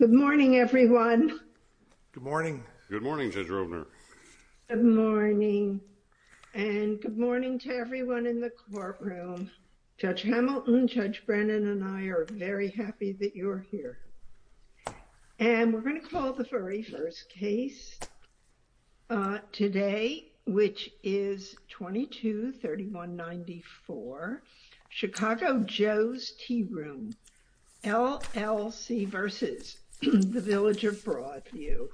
Good morning everyone. Good morning. Good morning Judge Rovner. Good morning. And good morning to everyone in the courtroom. Judge Hamilton, Judge Brennan, and I are very happy that you're here. And we're going to call the very first case today, which is 22-3194 Chicago Joe's Tea Room, LLC v. the Village of Broadview.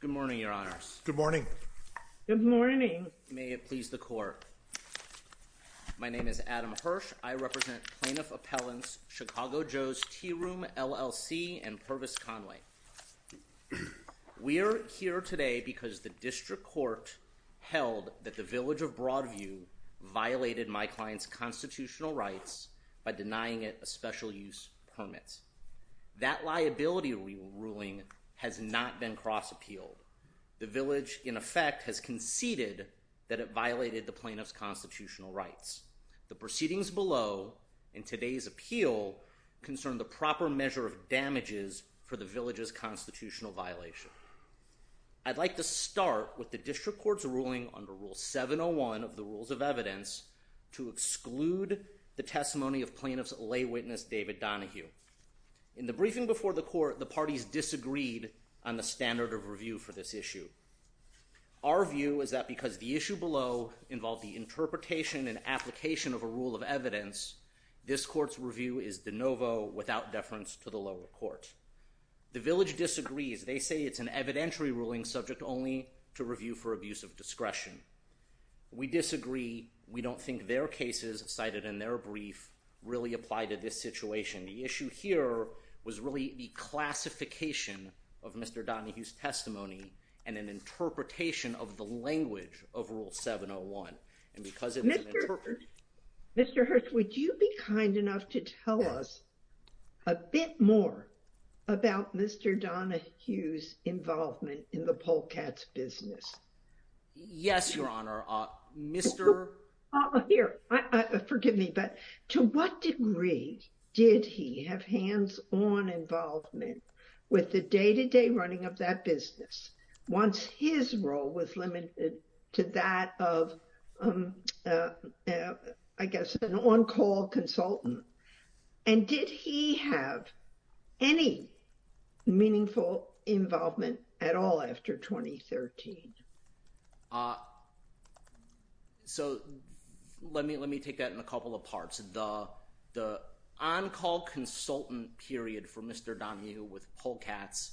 Good morning, Your Honors. Good morning. Good morning. I represent Plaintiff Appellants, Chicago Joe's Tea Room, LLC, and Pervis Conway. We are here today because the district court held that the Village of Broadview violated my client's constitutional rights by denying it a special use permit. That liability ruling has not been cross-appealed. The Village, in effect, has conceded that it violated the in today's appeal concern the proper measure of damages for the Village's constitutional violation. I'd like to start with the district court's ruling under Rule 701 of the Rules of Evidence to exclude the testimony of plaintiff's lay witness, David Donahue. In the briefing before the court, the parties disagreed on the standard of review for this issue. Our view is that because the issue below involved the interpretation and application of a rule of evidence, this court's review is de novo, without deference to the lower court. The Village disagrees. They say it's an evidentiary ruling subject only to review for abuse of discretion. We disagree. We don't think their cases cited in their brief really apply to this situation. The issue here was really the classification of Mr. Donahue's testimony and an interpretation of the language of Rule 701. And because it's an interpretation... Mr. Hirst, would you be kind enough to tell us a bit more about Mr. Donahue's involvement in the Polk Cats business? Yes, Your Honor. Mr... Here, forgive me, but to what degree did he have hands-on involvement with the day-to-day running of that business, once his role was limited to that of, I guess, an on-call consultant? And did he have any meaningful involvement at all after 2013? So, let me take that in a couple of parts. The on-call consultant period for Mr. Donahue with Polk Cats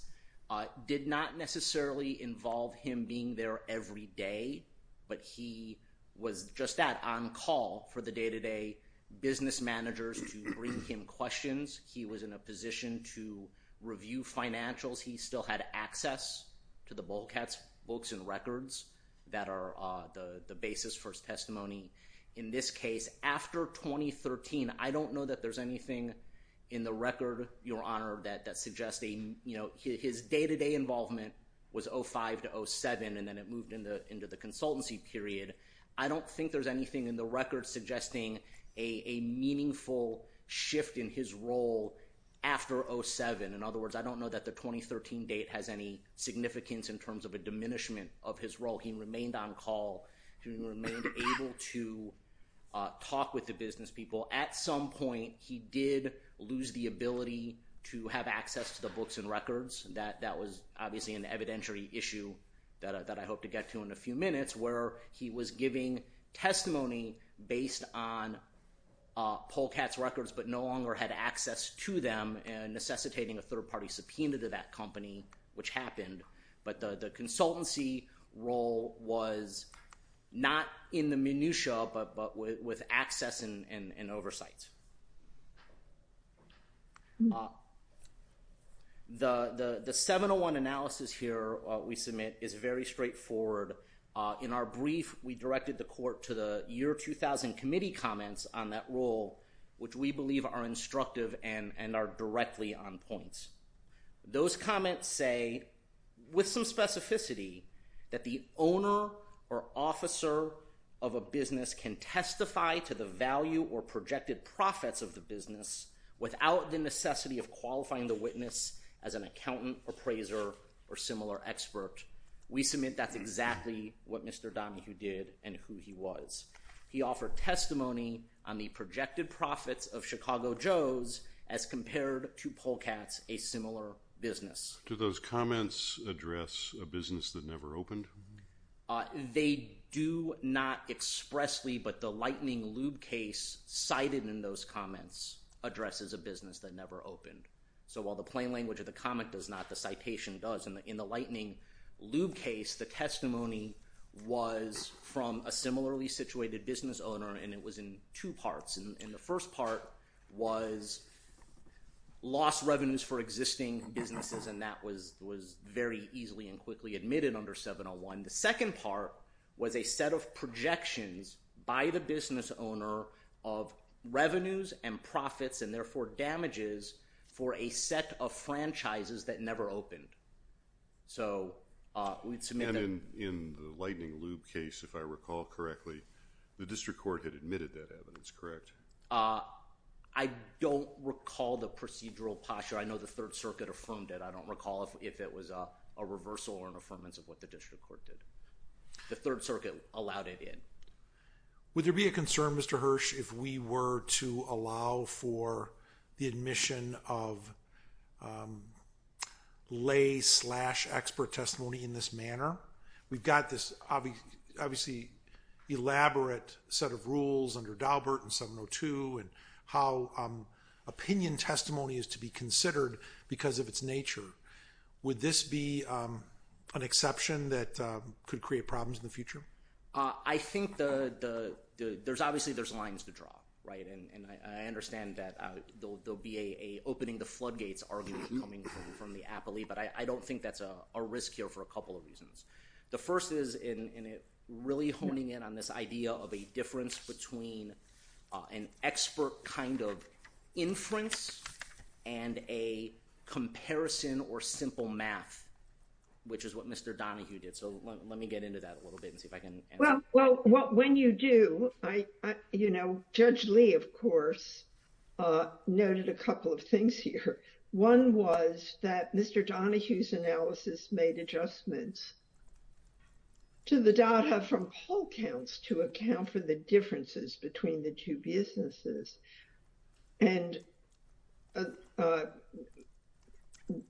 did not necessarily involve him being there every day, but he was just that, on-call for the day-to-day business managers to bring him questions. He was in a position to review financials. He still had access to the Polk Cats books and records that are the basis for his testimony. In this case, 2013, I don't know that there's anything in the record, Your Honor, that suggests... His day-to-day involvement was 2005 to 2007, and then it moved into the consultancy period. I don't think there's anything in the record suggesting a meaningful shift in his role after 2007. In other words, I don't know that the 2013 date has any significance in terms of a diminishment of his role. He remained on-call. He remained able to talk with the business people. At some point, he did lose the ability to have access to the books and records. That was obviously an evidentiary issue that I hope to get to in a few minutes, where he was giving testimony based on Polk Cats records but no longer had access to them and necessitating a third-party subpoena to that company, which happened. But the consultancy role was not in the minutia but with access and oversight. The 701 analysis here we submit is very straightforward. In our brief, we directed the court to the Year 2000 Committee comments on that role, which we believe are instructive and are directly on point. Those comments say, with some specificity, that the owner or officer of a business can testify to the value or projected profits of the business without the necessity of qualifying the witness as an accountant, appraiser, or similar expert. We submit that's exactly what Mr. Donahue did and who he was. He offered testimony on the projected profits of Chicago Joes as compared to Polk Cats, a similar business. Do those comments address a business that never opened? They do not expressly, but the lightning lube case cited in those comments addresses a business that never opened. So while the plain language of the comment does not, the citation does. In the lightning lube case, the testimony was from a similarly situated business owner and it was in two parts. The first part was lost revenues for existing businesses and that was very easily and quickly admitted under 701. The second part was a set of projections by the business owner of revenues and profits and therefore damages for a set of franchises that never opened. And in the lightning lube case, if I recall correctly, the district court had admitted that evidence, correct? I don't recall the procedural posture. I know the Third Circuit affirmed it. I don't recall if it was a reversal or an affirmance of what the district court did. The Third Circuit allowed it in. Would there be a concern, Mr. Hirsch, if we were to allow for the admission of lay-off case-slash-expert testimony in this manner? We've got this obviously elaborate set of rules under Daubert and 702 and how opinion testimony is to be considered because of its nature. Would this be an exception that could create problems in the future? I think there's obviously lines to draw, right? And I understand that there'll be an opening to floodgates argument coming from the appellee, but I don't think that's a risk here for a couple of reasons. The first is in really honing in on this idea of a difference between an expert kind of inference and a comparison or simple math, which is what Mr. Donahue did. So let me get into that a little bit and see if I can answer that. Well, when you do, I, you know, Judge Lee, of course, noted a couple of things here. One was that Mr. Donahue's analysis made adjustments to the data from whole counts to account for the differences between the two businesses. And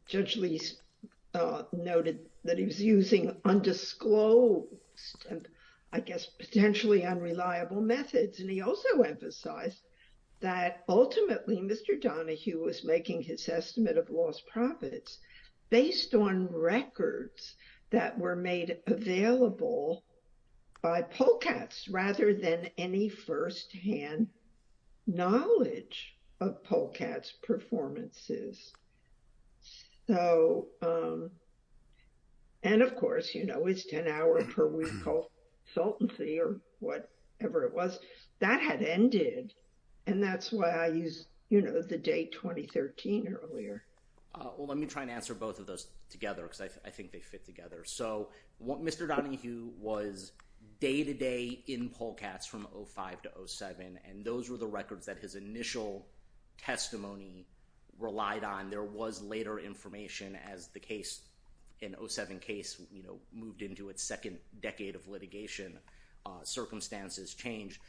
Judge Lee noted that he was using undisclosed, I guess, potentially unreliable methods. And he also emphasized that ultimately Mr. Donahue was making his estimate of lost profits based on records that were made available by Polkatz rather than any firsthand knowledge of Polkatz performances. So, and of course, you know, it's 10 hour per week consultancy or whatever it was that had ended. And that's why I use, you know, the date 2013 earlier. Well, let me try and answer both of those together because I think they fit together. So what Mr. Donahue was day to day in Polkatz from 05 to 07, and those were the records that his initial testimony relied on. There was later information as the case in 07 case, you know, moved into its second decade of litigation, circumstances changed.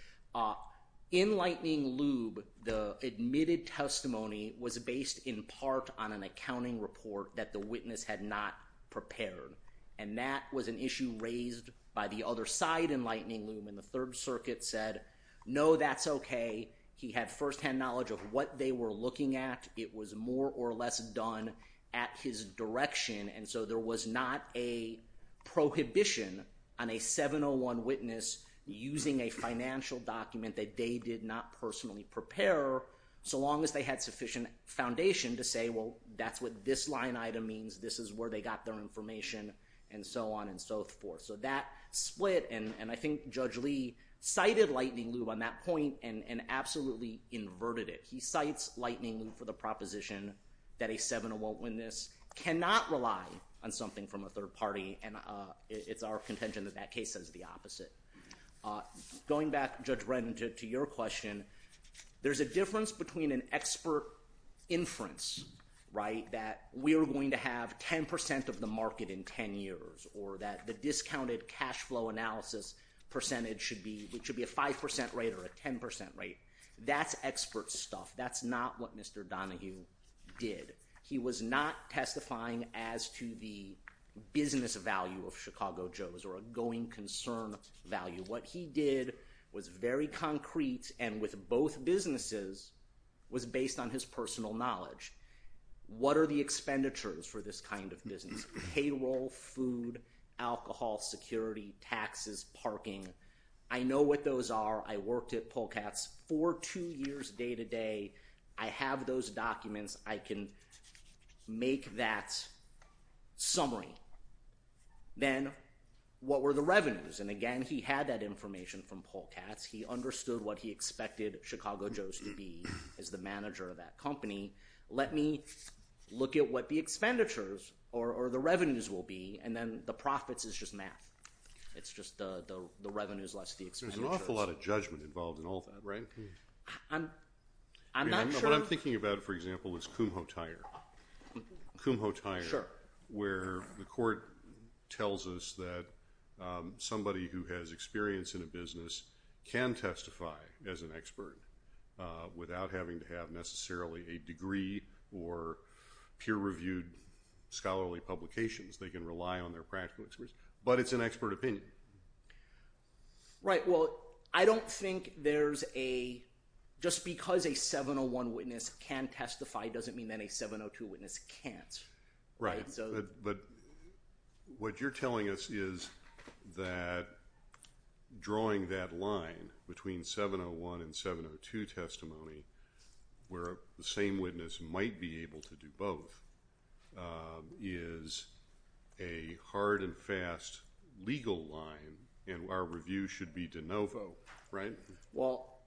In Lightning Lube, the admitted testimony was based in part on an accounting report that the witness had not prepared. And that was an issue raised by the other side in Lightning Lube. And the third circuit said, no, that's okay. He had firsthand knowledge of what they were looking at. It was more or less done at his direction. And so there was not a prohibition on a 701 witness using a financial document that they did not personally prepare so long as they had sufficient foundation to say, well, that's what this line item means. This is where they got their information and so on and so forth. So that split, and I think Judge Lee cited Lightning Lube on that point and absolutely inverted it. He cites Lightning Lube for the proposition that a 701 witness cannot rely on something from a third party, and it's our contention that that case says the opposite. Going back, Judge Brennan, to your question, there's a difference between an expert inference, right, that we are going to have 10% of the time, a 5% rate or a 10% rate. That's expert stuff. That's not what Mr. Donahue did. He was not testifying as to the business value of Chicago Joe's or a going concern value. What he did was very concrete and with both businesses was based on his personal knowledge. What are the expenditures for this kind of business? Payroll, food, alcohol, security, taxes, parking. I know what those are. I worked at Polk Hats for two years day to day. I have those documents. I can make that summary. Then what were the revenues? And again, he had that information from Polk Hats. He understood what he expected Chicago Joe's to be as the manager of that company. Let me look at what the expenditures or the revenues will be, and then the profits is just math. It's just the revenues less the expenditures. There's an awful lot of judgment involved in all that, right? I'm not sure. What I'm thinking about, for example, is Kumho Tire. Kumho Tire, where the court tells us that somebody who has experience in a business can testify as an expert without having to necessarily a degree or peer-reviewed scholarly publications. They can rely on their practical experience, but it's an expert opinion. Right. Well, I don't think there's a, just because a 701 witness can testify doesn't mean that a 702 witness can't. Right, but what you're telling us is that drawing that line between 701 and 702 testimony where the same witness might be able to do both is a hard and fast legal line, and our review should be de novo, right? Well,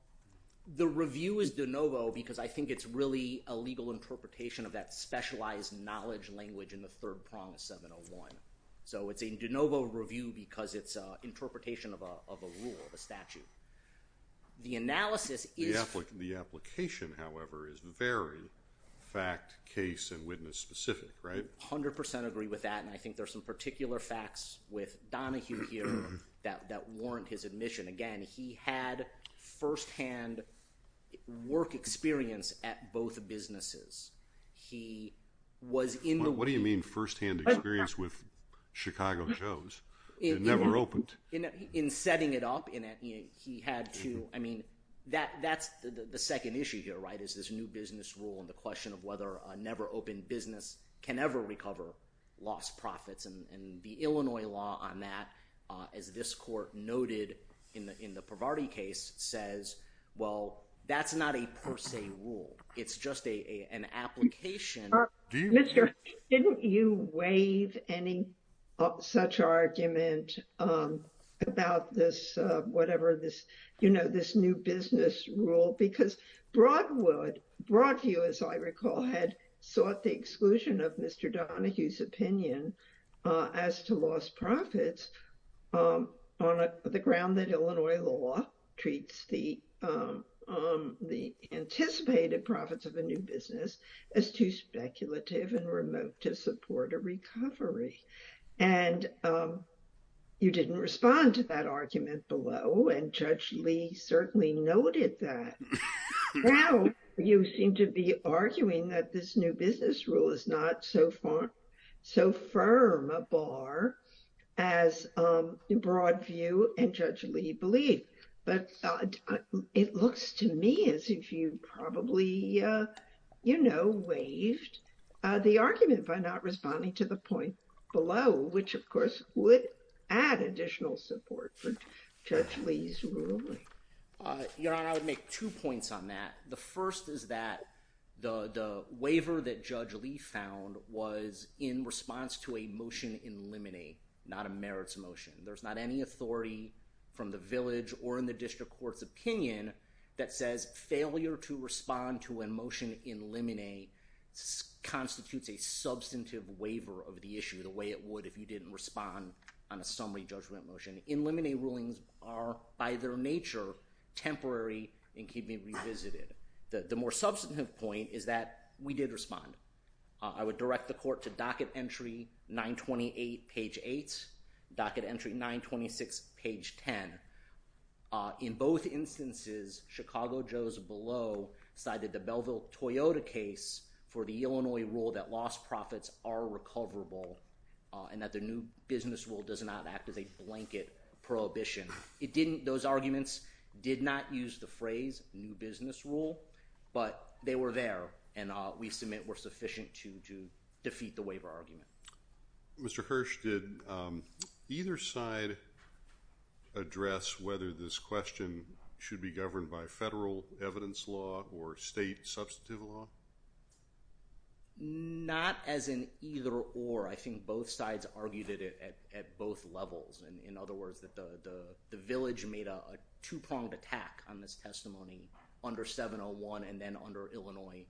the review is de novo because I think it's really a legal interpretation of that specialized knowledge language in the third prong of 701. So it's a de novo review because it's an interpretation of a rule, of a statute. The analysis is- The application, however, is very fact, case, and witness specific, right? I 100% agree with that, and I think there's some particular facts with Donahue here that warrant his admission. Again, he had first-hand work experience at both businesses. He was in the- What do you mean first-hand experience with Chicago Joe's? It never opened. In setting it up, he had to- I mean, that's the second issue here, right, is this new business rule and the question of whether a never-opened business can ever recover lost profits, and the Illinois law on that, as this court noted in the ProVardi case, says, well, that's not a per se rule. It's just an application- Mr. Hutch, didn't you waive any such argument about this, whatever this, you know, this new business rule? Because Broadwood, Broadview, as I recall, had sought the exclusion of Mr. Donahue's opinion as to lost profits on the ground that Illinois law treats the anticipated profits of a new business as too speculative and remote to support a recovery, and you didn't respond to that argument below, and Judge Lee certainly noted that. Now, you seem to be arguing that this new business rule is not so firm a bar as Broadview and Judge Lee believe, but it looks to me as if you probably, you know, waived the argument by not responding to the point below, which, of course, would add additional support for Judge Lee's ruling. Your Honor, I would make two points on that. The first is that the waiver that Judge Lee found was in response to a motion in limine, not a merits motion. There's not any authority from the village or in the district court's opinion that says failure to respond to a motion in limine constitutes a substantive waiver of the issue the way it would if you didn't respond on a summary judgment motion. In limine rulings are, by their nature, temporary and can be revisited. The more substantive point is that we did respond. I would direct the court to docket entry 928 page 8, docket entry 926 page 10. In both instances, Chicago Joe's below cited the Belleville Toyota case for the Illinois rule that lost profits are recoverable and that the new business rule does not act as a blanket prohibition. It didn't, those arguments did not use the phrase new business rule, but they were there and we submit were sufficient to defeat the waiver argument. Mr. Hirsch, did either side address whether this question should be governed by federal evidence law or state substantive law? Not as an either or. I think both sides argued it at both levels. In other words, the village made a two-pronged attack on this testimony under 701 and then under Illinois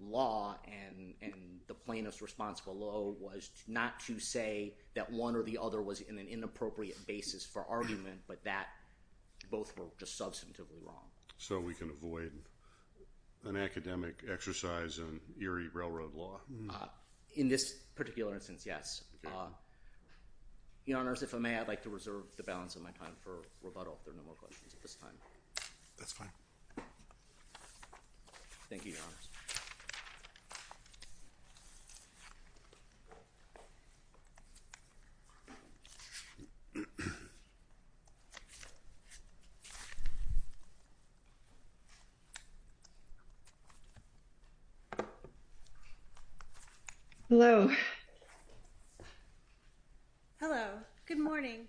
law and the plaintiff's response below was not to say that one or the other was in an inappropriate basis for argument, but that both were just substantively wrong. So we can avoid an academic exercise in eerie railroad law. In this particular instance, yes. Your honors, if I may, I'd like to reserve the floor. Thank you, your honors. Hello. Hello. Good morning.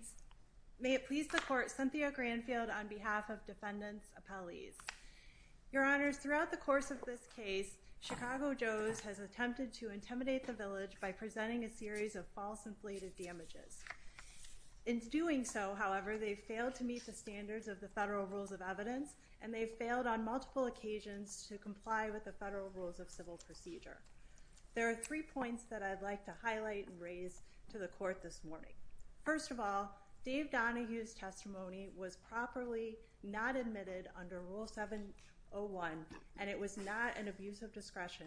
May it please the court, Cynthia Granfield on behalf of defendants appellees. Your honors, throughout the course of this case, Chicago Joe's has attempted to intimidate the village by presenting a series of false inflated damages. In doing so, however, they failed to meet the standards of the federal rules of evidence and they failed on multiple occasions to comply with the federal rules of civil procedure. There are three points that I'd like to highlight and raise to the court. First, it was properly not admitted under rule 701 and it was not an abuse of discretion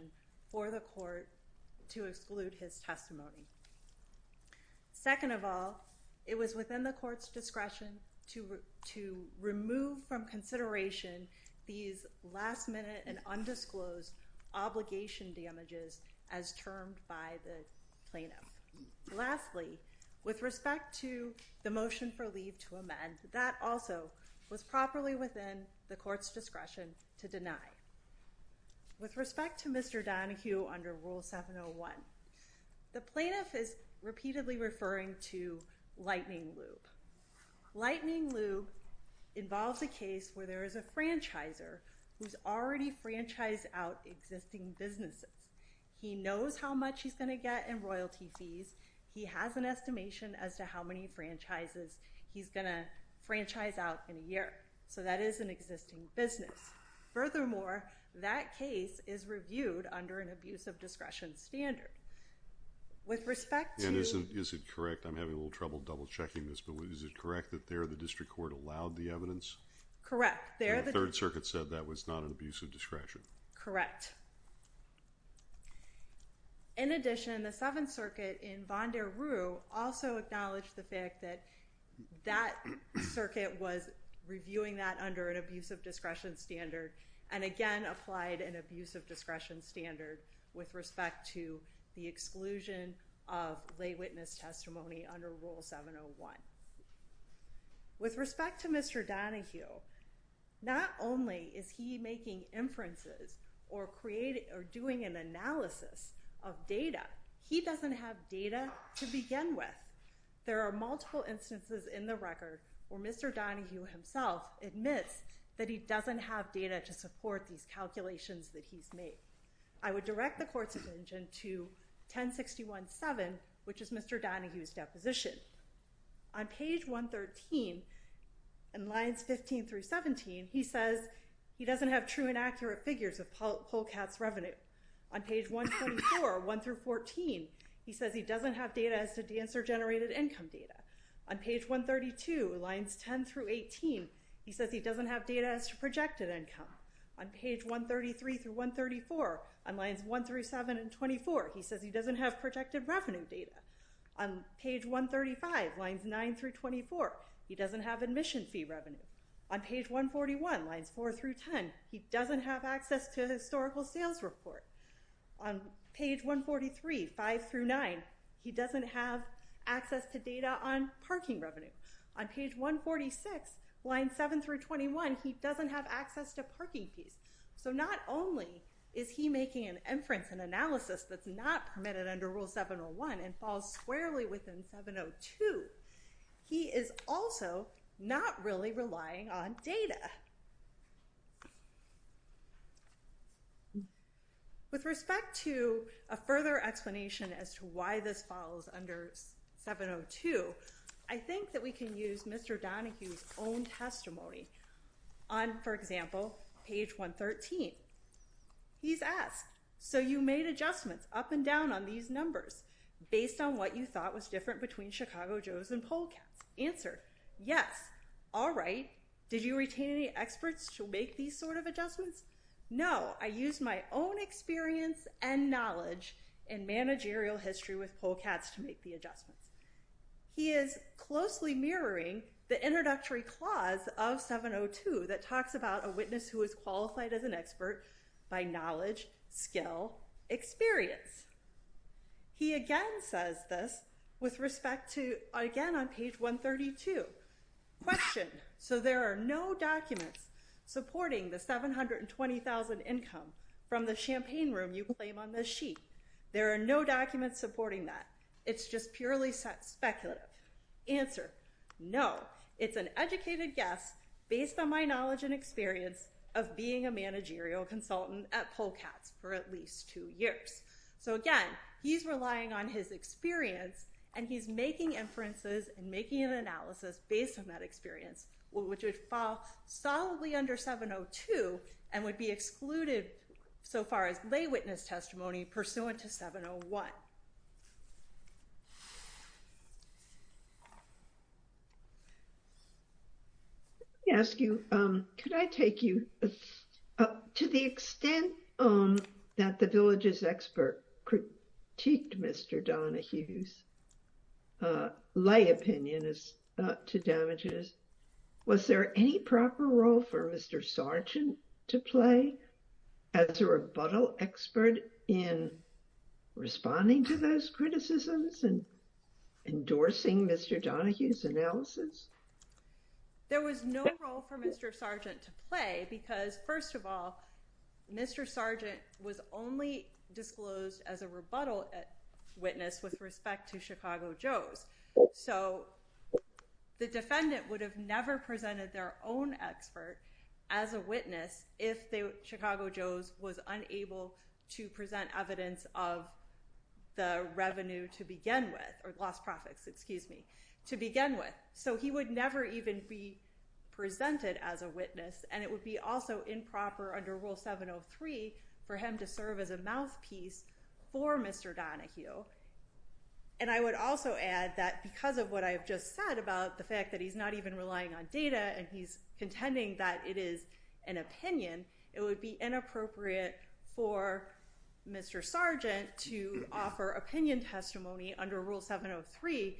for the court to exclude his testimony. Second of all, it was within the court's discretion to remove from consideration these last minute and undisclosed obligation damages as termed by the plaintiff. Lastly, with respect to the motion for leave to amend, that also was properly within the court's discretion to deny. With respect to Mr. Donohue under rule 701, the plaintiff is repeatedly referring to lightning lube. Lightning lube involves a case where there is a franchisor who's already franchised out existing businesses. He knows how much he's going to get in royalty fees. He has an estimation as to how many franchises he's going to franchise out in a year. So that is an existing business. Furthermore, that case is reviewed under an abuse of discretion standard. With respect to... Is it correct, I'm having a little trouble double checking this, but is it correct that there the district court allowed the evidence? Correct. The third circuit said that was not an abuse of discretion. Correct. In addition, the seventh circuit in Vondaroo also acknowledged the fact that that circuit was reviewing that under an abuse of discretion standard and again applied an abuse of discretion standard with respect to the exclusion of lay witness testimony under rule 701. With respect to Mr. Donohue, not only is he making inferences or doing an analysis of data, he doesn't have data to begin with. There are multiple instances in the record where Mr. Donohue himself admits that he doesn't have data to support these calculations that he's made. I would direct the court's attention to 10617, which is Mr. Donohue's deposition. On page 113, in the lines 15 through 17, he says he doesn't have true and accurate figures of Polkatt's revenue. On page 124, 1 through 14, he says he doesn't have data as to dancer-generated income data. On page 132, lines 10 through 18, he says he doesn't have data as to projected income. On page 133 through 134, on lines 1 through 7 and 24, he says he doesn't have projected revenue data. On page 135, lines 9 through 24, he doesn't have admission fee revenue. On page 141, lines 4 through 10, he doesn't have access to historical sales report. On page 143, 5 through 9, he doesn't have access to data on parking revenue. On page 146, lines 7 through 21, he doesn't have access to parking fees. So not only is he making an inference and analysis that's not permitted under Rule 701 and falls squarely within 702, he is also not really relying on data. With respect to a further explanation as to why this falls under 702, I think that we can use Mr. Donohue's own testimony. On, for example, he asks, so you made adjustments up and down on these numbers based on what you thought was different between Chicago Joes and Polkats. Answer, yes. All right. Did you retain any experts to make these sort of adjustments? No. I used my own experience and knowledge in managerial history with Polkats to make the adjustments. He is closely mirroring the introductory clause of 702 that talks about a witness who is qualified as an expert by knowledge, skill, experience. He again says this with respect to, again, on page 132. Question, so there are no documents supporting the $720,000 income from the champagne room you claim on this sheet. There are no documents supporting that. It's just purely speculative. Answer, no. It's an educated guess based on my knowledge and experience of being a managerial consultant at Polkats for at least two years. So again, he's relying on his experience and he's making inferences and making an analysis based on that experience, which would fall solidly under 702 and would be excluded so far as lay witness testimony pursuant to 701. Let me ask you, could I take you, to the extent that the villages expert critiqued Mr. Donahue's lay opinion as to damages, was there any proper role for Mr. Sargent to play as a rebuttal expert in responding to those criticisms and endorsing Mr. Donahue's analysis? There was no role for Mr. Sargent to play because, first of all, Mr. Sargent was only disclosed as a rebuttal witness with respect to Chicago Joe's. So the defendant would have never presented their own expert as a witness if Chicago Joe's was unable to present evidence of the revenue to begin with, or lost profits, excuse me, to begin with. So he would never even be presented as a witness and it would be also improper under Rule 703 for him to serve as a mouthpiece for Mr. Donahue. And I would also add that because of what I've just said about the fact that he's not even relying on data and he's contending that it is an opinion, it would be inappropriate for Mr. Sargent to offer opinion testimony under Rule 703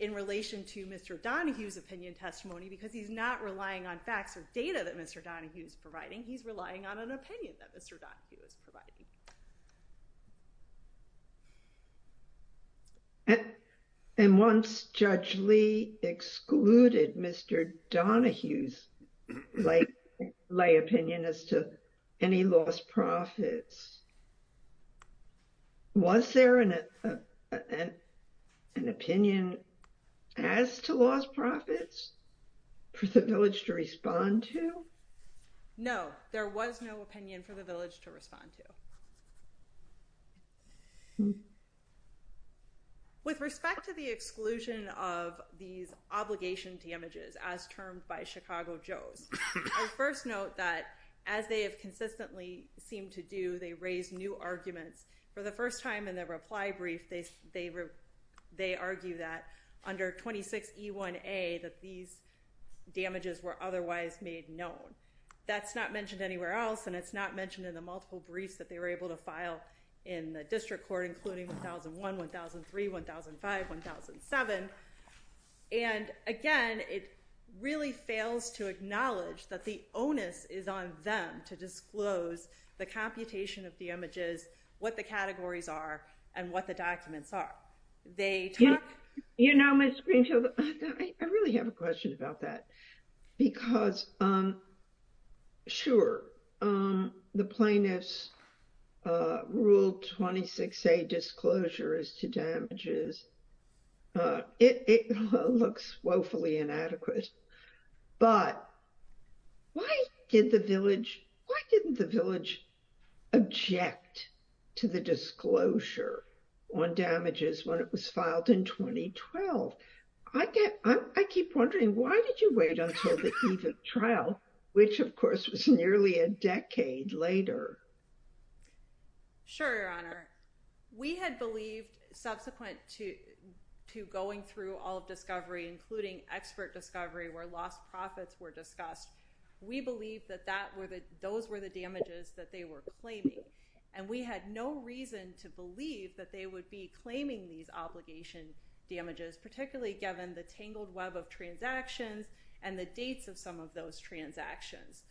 in relation to Mr. Donahue's opinion testimony because he's not relying on facts or data that Mr. Donahue is providing, he's relying on an opinion that Mr. Donahue is providing. Judge Lee excluded Mr. Donahue's lay opinion as to any lost profits. Was there an opinion as to lost profits for the village to respond to? No, there was no opinion for the village to respond to. With respect to the exclusion of these obligation damages as termed by Chicago Joe's, I first note that as they have consistently seemed to do, they raise new arguments. For the first time in their reply brief, they argue that under 26E1A that these damages were otherwise made known. That's not mentioned anywhere else and it's not mentioned in the multiple briefs that they were able to file in the district court including 1001, 1003, 1005, 1007. Again, it really fails to acknowledge that the onus is on them to disclose the computation of the images, what the categories are, and what the documents are. You know Ms. Greenfield, I really have a question about that because, sure, the plaintiff's rule 26A disclosure as to damages, it looks woefully inadequate, but why didn't the village object to the disclosure on damages when it was filed in 2012? I keep wondering, why did you wait until the eve of trial, which of course was nearly a decade later? Sure Your Honor. We had believed subsequent to going through all of discovery, including expert discovery where lost profits were discussed, we believed that those were the damages that they were claiming. We had no reason to believe that they would be claiming these obligation damages, particularly given the tangled web of transactions and the dates of some of those transactions.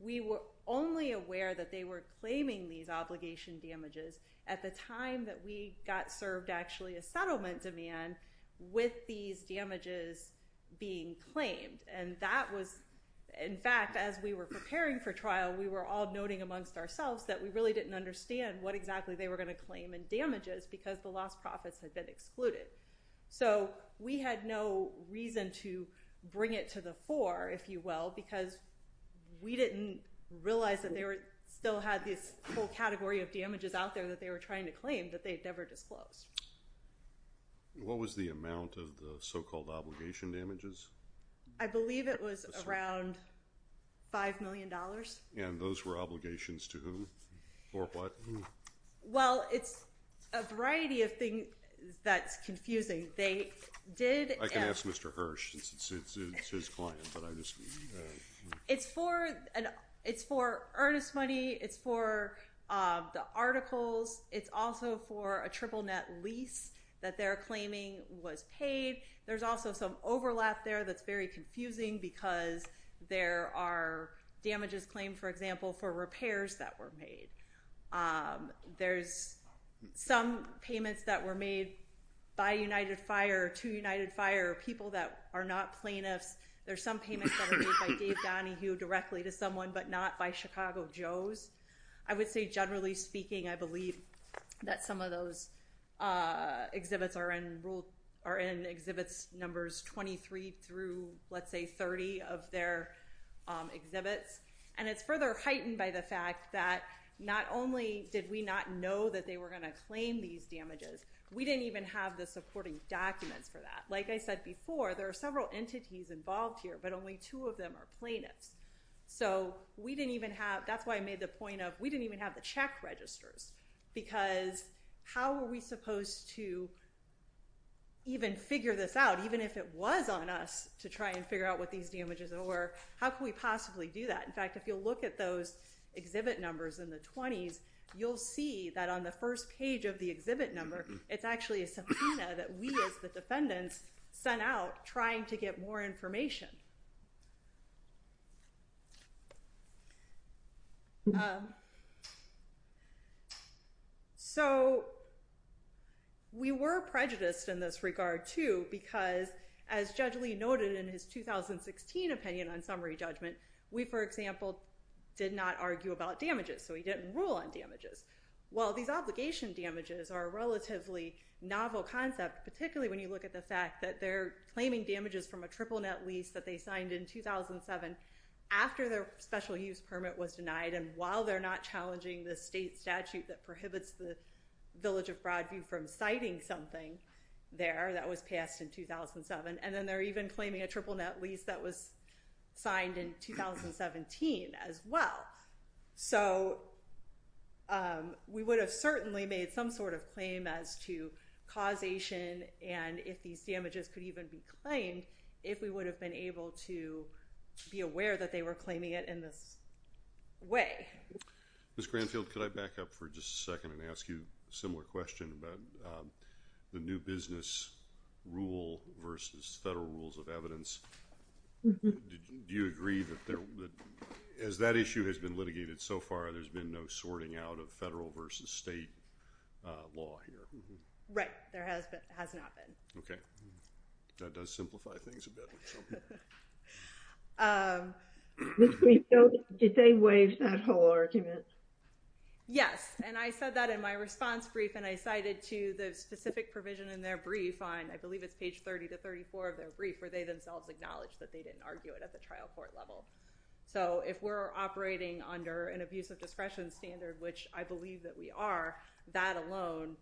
We were only aware that they were claiming these obligation damages at the time that we got served actually a settlement demand with these damages being claimed. And that was, in fact, as we were preparing for trial, we were all noting amongst ourselves that we really didn't understand what exactly they were going to claim in damages because the lost profits had been excluded. So we had no reason to bring it to the fore, if you will, because we didn't realize that they still had this whole category of damages out there that they were trying to claim that they had never disclosed. What was the amount of the so-called obligation damages? I believe it was around $5 million. And those were obligations to whom or what? Well, it's a variety of things that's confusing. They did... I can ask Mr. Hirsch. It's his client, but I just... It's for earnest money. It's for the articles. It's also for a triple net lease that they're claiming was paid. There's also some overlap there that's very confusing because there are damages claimed, for example, for repairs that were made. There's some payments that were made by United Fire to United Fire, people that are not plaintiffs. There's some payments that were made by Dave Donahue directly to someone, but not by Chicago Joe's. I would say generally speaking, I believe that some of those exhibits are in rule... Are in exhibits numbers 23 through, let's say, 30 of their exhibits. And it's further heightened by the fact that not only did we not know that they were going to claim these damages, we didn't even have the supporting documents for that. Like I said before, there are several entities involved here, but only two of them are plaintiffs. So we didn't even have... That's why I made the point of we didn't even have the check registers because how were we supposed to even figure this out, even if it was on us to try and figure out what these damages were? How could we possibly do that? In fact, if you look at those exhibit numbers in the 20s, you'll see that on the first page of the exhibit number, it's actually a subpoena that we as the defendants sent out trying to get more information. So, we were prejudiced in this regard, too, because as Judge Lee noted in his 2016 opinion on summary judgment, we, for example, did not argue about damages, so we didn't rule on damages. Well, these obligation damages are a relatively novel concept, particularly when you look at the fact that they're claiming damages from a triple net lease that they signed in 2007 after their special use permit was denied, and while they're not challenging the state statute that prohibits the Village of Broadview from citing something there that was passed in 2007, and then they're even claiming a triple net lease that was signed in 2017 as well. So, we would have certainly made some sort of claim as to causation and if these damages could even be claimed if we would have been able to be aware that they were claiming it in this way. Ms. Granfield, could I back up for just a second and ask you a similar question about the new business rule versus federal rules of evidence? Do you agree that as that issue has been litigated so far, there's been no sorting out of federal versus state law here? Right. There has not been. Okay. That does simplify things a bit. Ms. Granfield, did they waive that whole argument? Yes, and I said that in my response brief and I cited to the specific provision in their brief on, I believe it's page 30 to 34 of their brief, where they themselves acknowledged that they didn't argue it at the trial court level. So, if we're operating under an abuse of discretion standard, which I believe that we are, that alone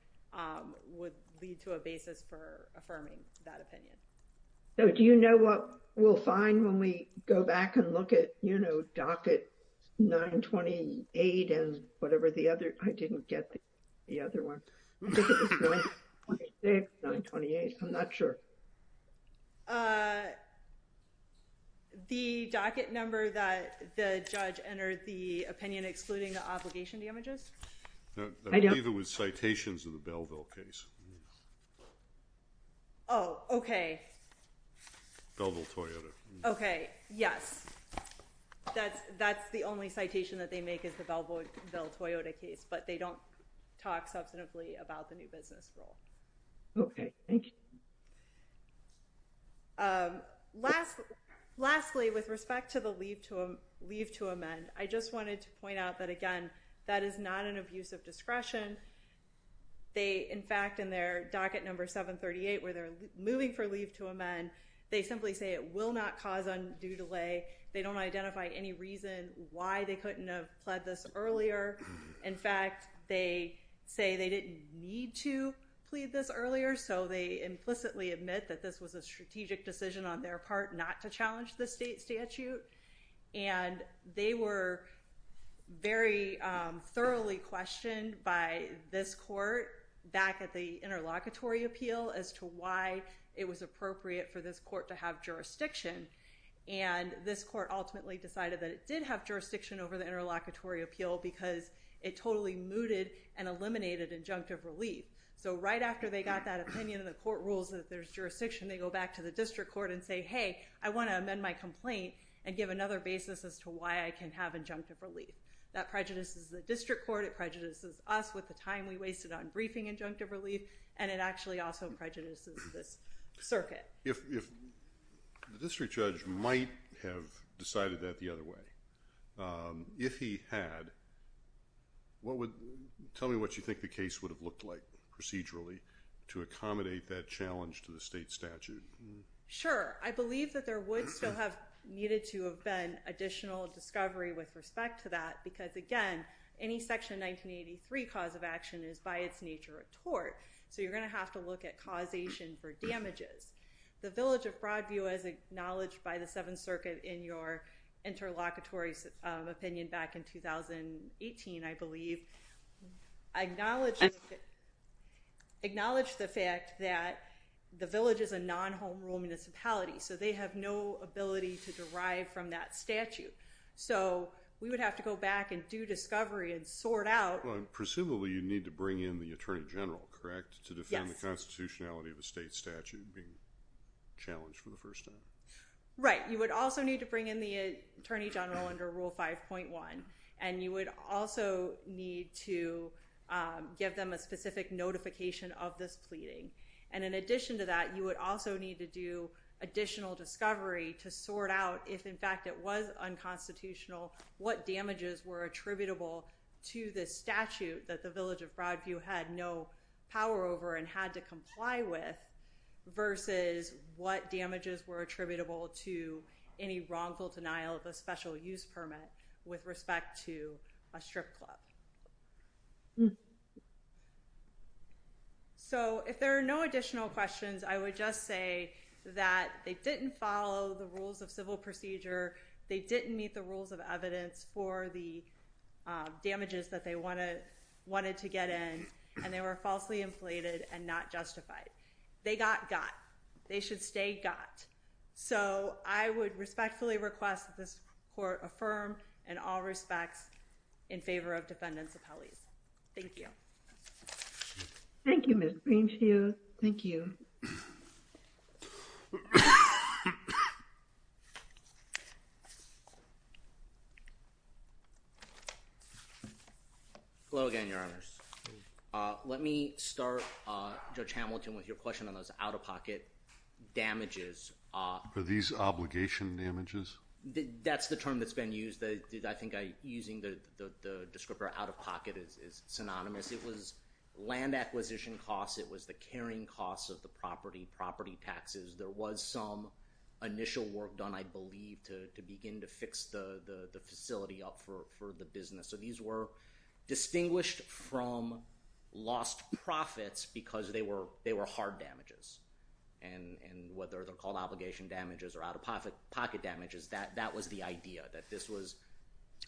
would lead to a basis for affirming that opinion. So, do you know what we'll find when we go back and look at docket 928 and whatever the other, I didn't get the other one. I think it was 926, 928, I'm not sure. The docket number that the judge entered the opinion excluding the obligation damages? I believe it was citations of the Belleville case. Oh, okay. Belleville-Toyota. Okay, yes. That's the only citation that they make is the Belleville-Toyota case, but they don't talk substantively about the new business rule. Okay, thank you. Lastly, with respect to the leave to amend, I just wanted to point out that, again, that is not an abuse of discretion. They, in fact, in their docket number 738, where they're moving for leave to amend, they simply say it will not cause undue delay. They don't identify any reason why they couldn't have pled this earlier. In fact, they say they didn't need to plead this earlier, so they implicitly admit that this was a strategic decision on their part not to challenge the state statute, and they were very thoroughly questioned by this court back at the interlocutory appeal as to why it was appropriate for this court to have jurisdiction, and this court ultimately decided that it did have jurisdiction over the interlocutory appeal because it totally mooted and eliminated injunctive relief. So right after they got that opinion and the court rules that there's jurisdiction, they go back to the district court and say, hey, I want to amend my complaint and give another basis as to why I can have injunctive relief. That prejudices the district court, it prejudices us with the time we wasted on briefing injunctive relief, and it actually also prejudices this circuit. If the district judge might have decided that the other way, if he had, tell me what you think the case would have looked like procedurally to accommodate that challenge to the state statute. Sure. I believe that there would still have needed to have been additional discovery with respect to that because, again, any Section 1983 cause of action is by its nature a tort, so you're going to have to look at causation for damages. The Village of Broadview, as acknowledged by the Seventh Circuit in your interlocutory opinion back in 2018, I believe, acknowledged the fact that the village is a non-home rule municipality, so they have no ability to derive from that statute. So we would have to go back and do discovery and sort out. Well, and presumably you'd need to bring in the Attorney General, correct, to defend the constitutionality of a state statute being challenged for the first time? Right. You would also need to bring in the Attorney General under Rule 5.1, and you would also need to give them a specific notification of this pleading. And in addition to that, you would also need to do additional discovery to sort out if, in fact, it was unconstitutional, what damages were attributable to this statute that the Village of Broadview had no power over and had to comply with versus what damages were attributable to any wrongful denial of a special use permit with respect to a strip club. So if there are no additional questions, I would just say that they didn't follow the rules of civil procedure, they didn't meet the rules of evidence for the damages that they wanted to get in, and they were falsely inflated and not justified. They got got. They should stay got. So I would respectfully request that this Court affirm in all respects in favor of defendants' appellees. Thank you. Thank you, Ms. Greenfield. Thank you. Hello again, Your Honors. Let me start, Judge Hamilton, with your question on those out-of-pocket damages. Are these obligation damages? That's the term that's been used. I think using the descriptor out-of-pocket is synonymous. It was land acquisition costs. It was the carrying costs of the property, property taxes. There was some initial work done, I believe, to begin to fix the facility up for the business. So these were distinguished from lost profits because they were hard damages. And whether they're called obligation damages or out-of-pocket damages, that was the idea, that this was...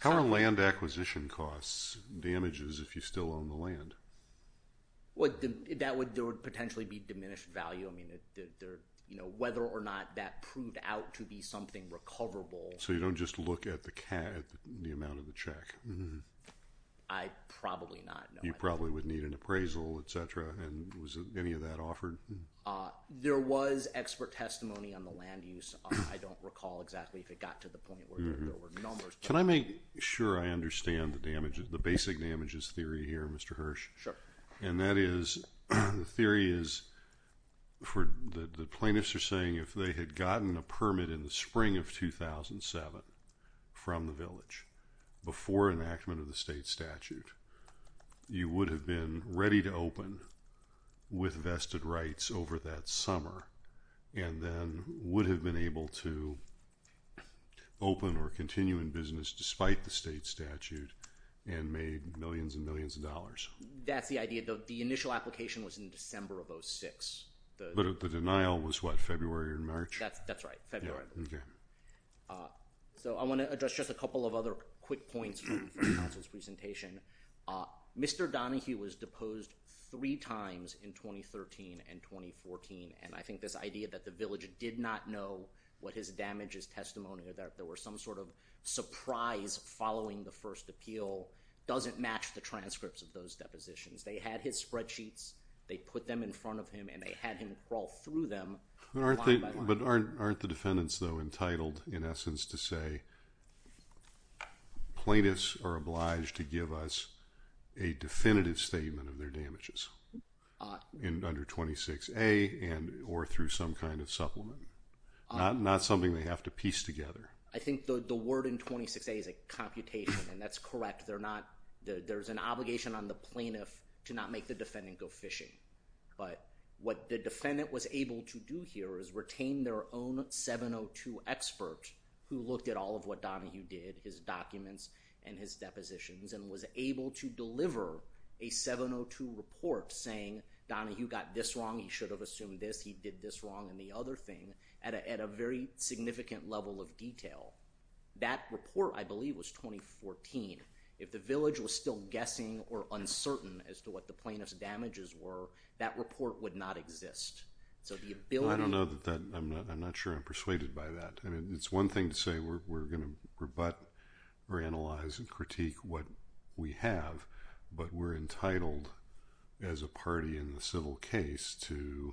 How are land acquisition costs damages if you still own the land? There would potentially be diminished value. I mean, whether or not that proved out to be something recoverable... So you don't just look at the amount of the check. I probably not. You probably would need an appraisal, etc. And was any of that offered? There was expert testimony on the land use. I don't recall exactly if it got to the point where there were numbers... Can I make sure I understand the basic damages theory here, Mr. Hirsch? Sure. And that is, the theory is, the plaintiffs are saying if they had gotten a permit in the spring of 2007 from the village before enactment of the state statute, you would have been ready to open with vested rights over that summer and then would have been able to open or continue in business despite the state statute and made millions and millions of dollars. That's the idea. The initial application was in December of 06. But the denial was, what, February or March? That's right, February. Okay. So I want to address just a couple of other quick points from the counsel's presentation. Mr. Donahue was deposed 3 times in 2013 and 2014. And I think this idea that the village did not know what his damages testimony or that there were some sort of surprise following the first appeal doesn't match the transcripts of those depositions. They had his spreadsheets, they put them in front of him, and they had him crawl through them one by one. But aren't the defendants, though, entitled, in essence, to say plaintiffs are obliged to give us a definitive statement of their damages under 26A or through some kind of supplement? Not something they have to piece together. I think the word in 26A is a computation, and that's correct. There's an obligation on the plaintiff to not make the defendant go fishing. But what the defendant was able to do here is retain their own 702 expert, who looked at all of what Donahue did, his documents and his depositions, and was able to deliver a 702 report saying, Donahue got this wrong, he should have assumed this, he did this wrong, and the other thing, at a very significant level of detail. That report, I believe, was 2014. If the village was still guessing or uncertain as to what the plaintiff's damages were, that report would not exist. I'm not sure I'm persuaded by that. It's one thing to say we're going to rebut or analyze and critique what we have, but we're entitled, as a party in the civil case, to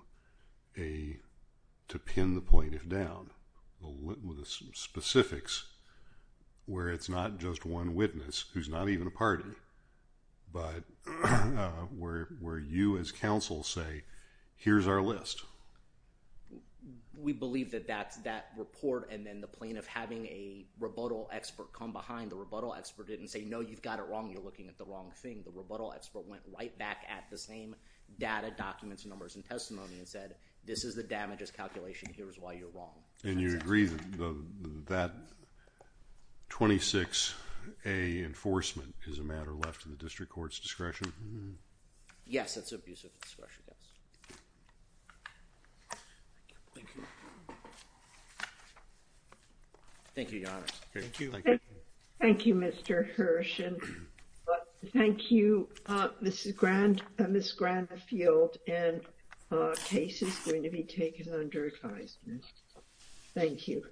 pin the plaintiff down. The specifics, where it's not just one witness, who's not even a party, but where you as counsel say, here's our list. We believe that that report and then the plaintiff having a rebuttal expert come behind, the rebuttal expert didn't say, no, you've got it wrong, you're looking at the wrong thing. The rebuttal expert went right back at the same data, documents, numbers, and testimony and said, this is the damages calculation, here's why you're wrong. And you agree that 26A enforcement is a matter left to the district court's discretion? Yes, that's an abuse of discretion, yes. Thank you, Your Honor. Thank you, Mr. Hirsh. Thank you, Ms. Granfield, and the case is going to be taken under advisement. Thank you.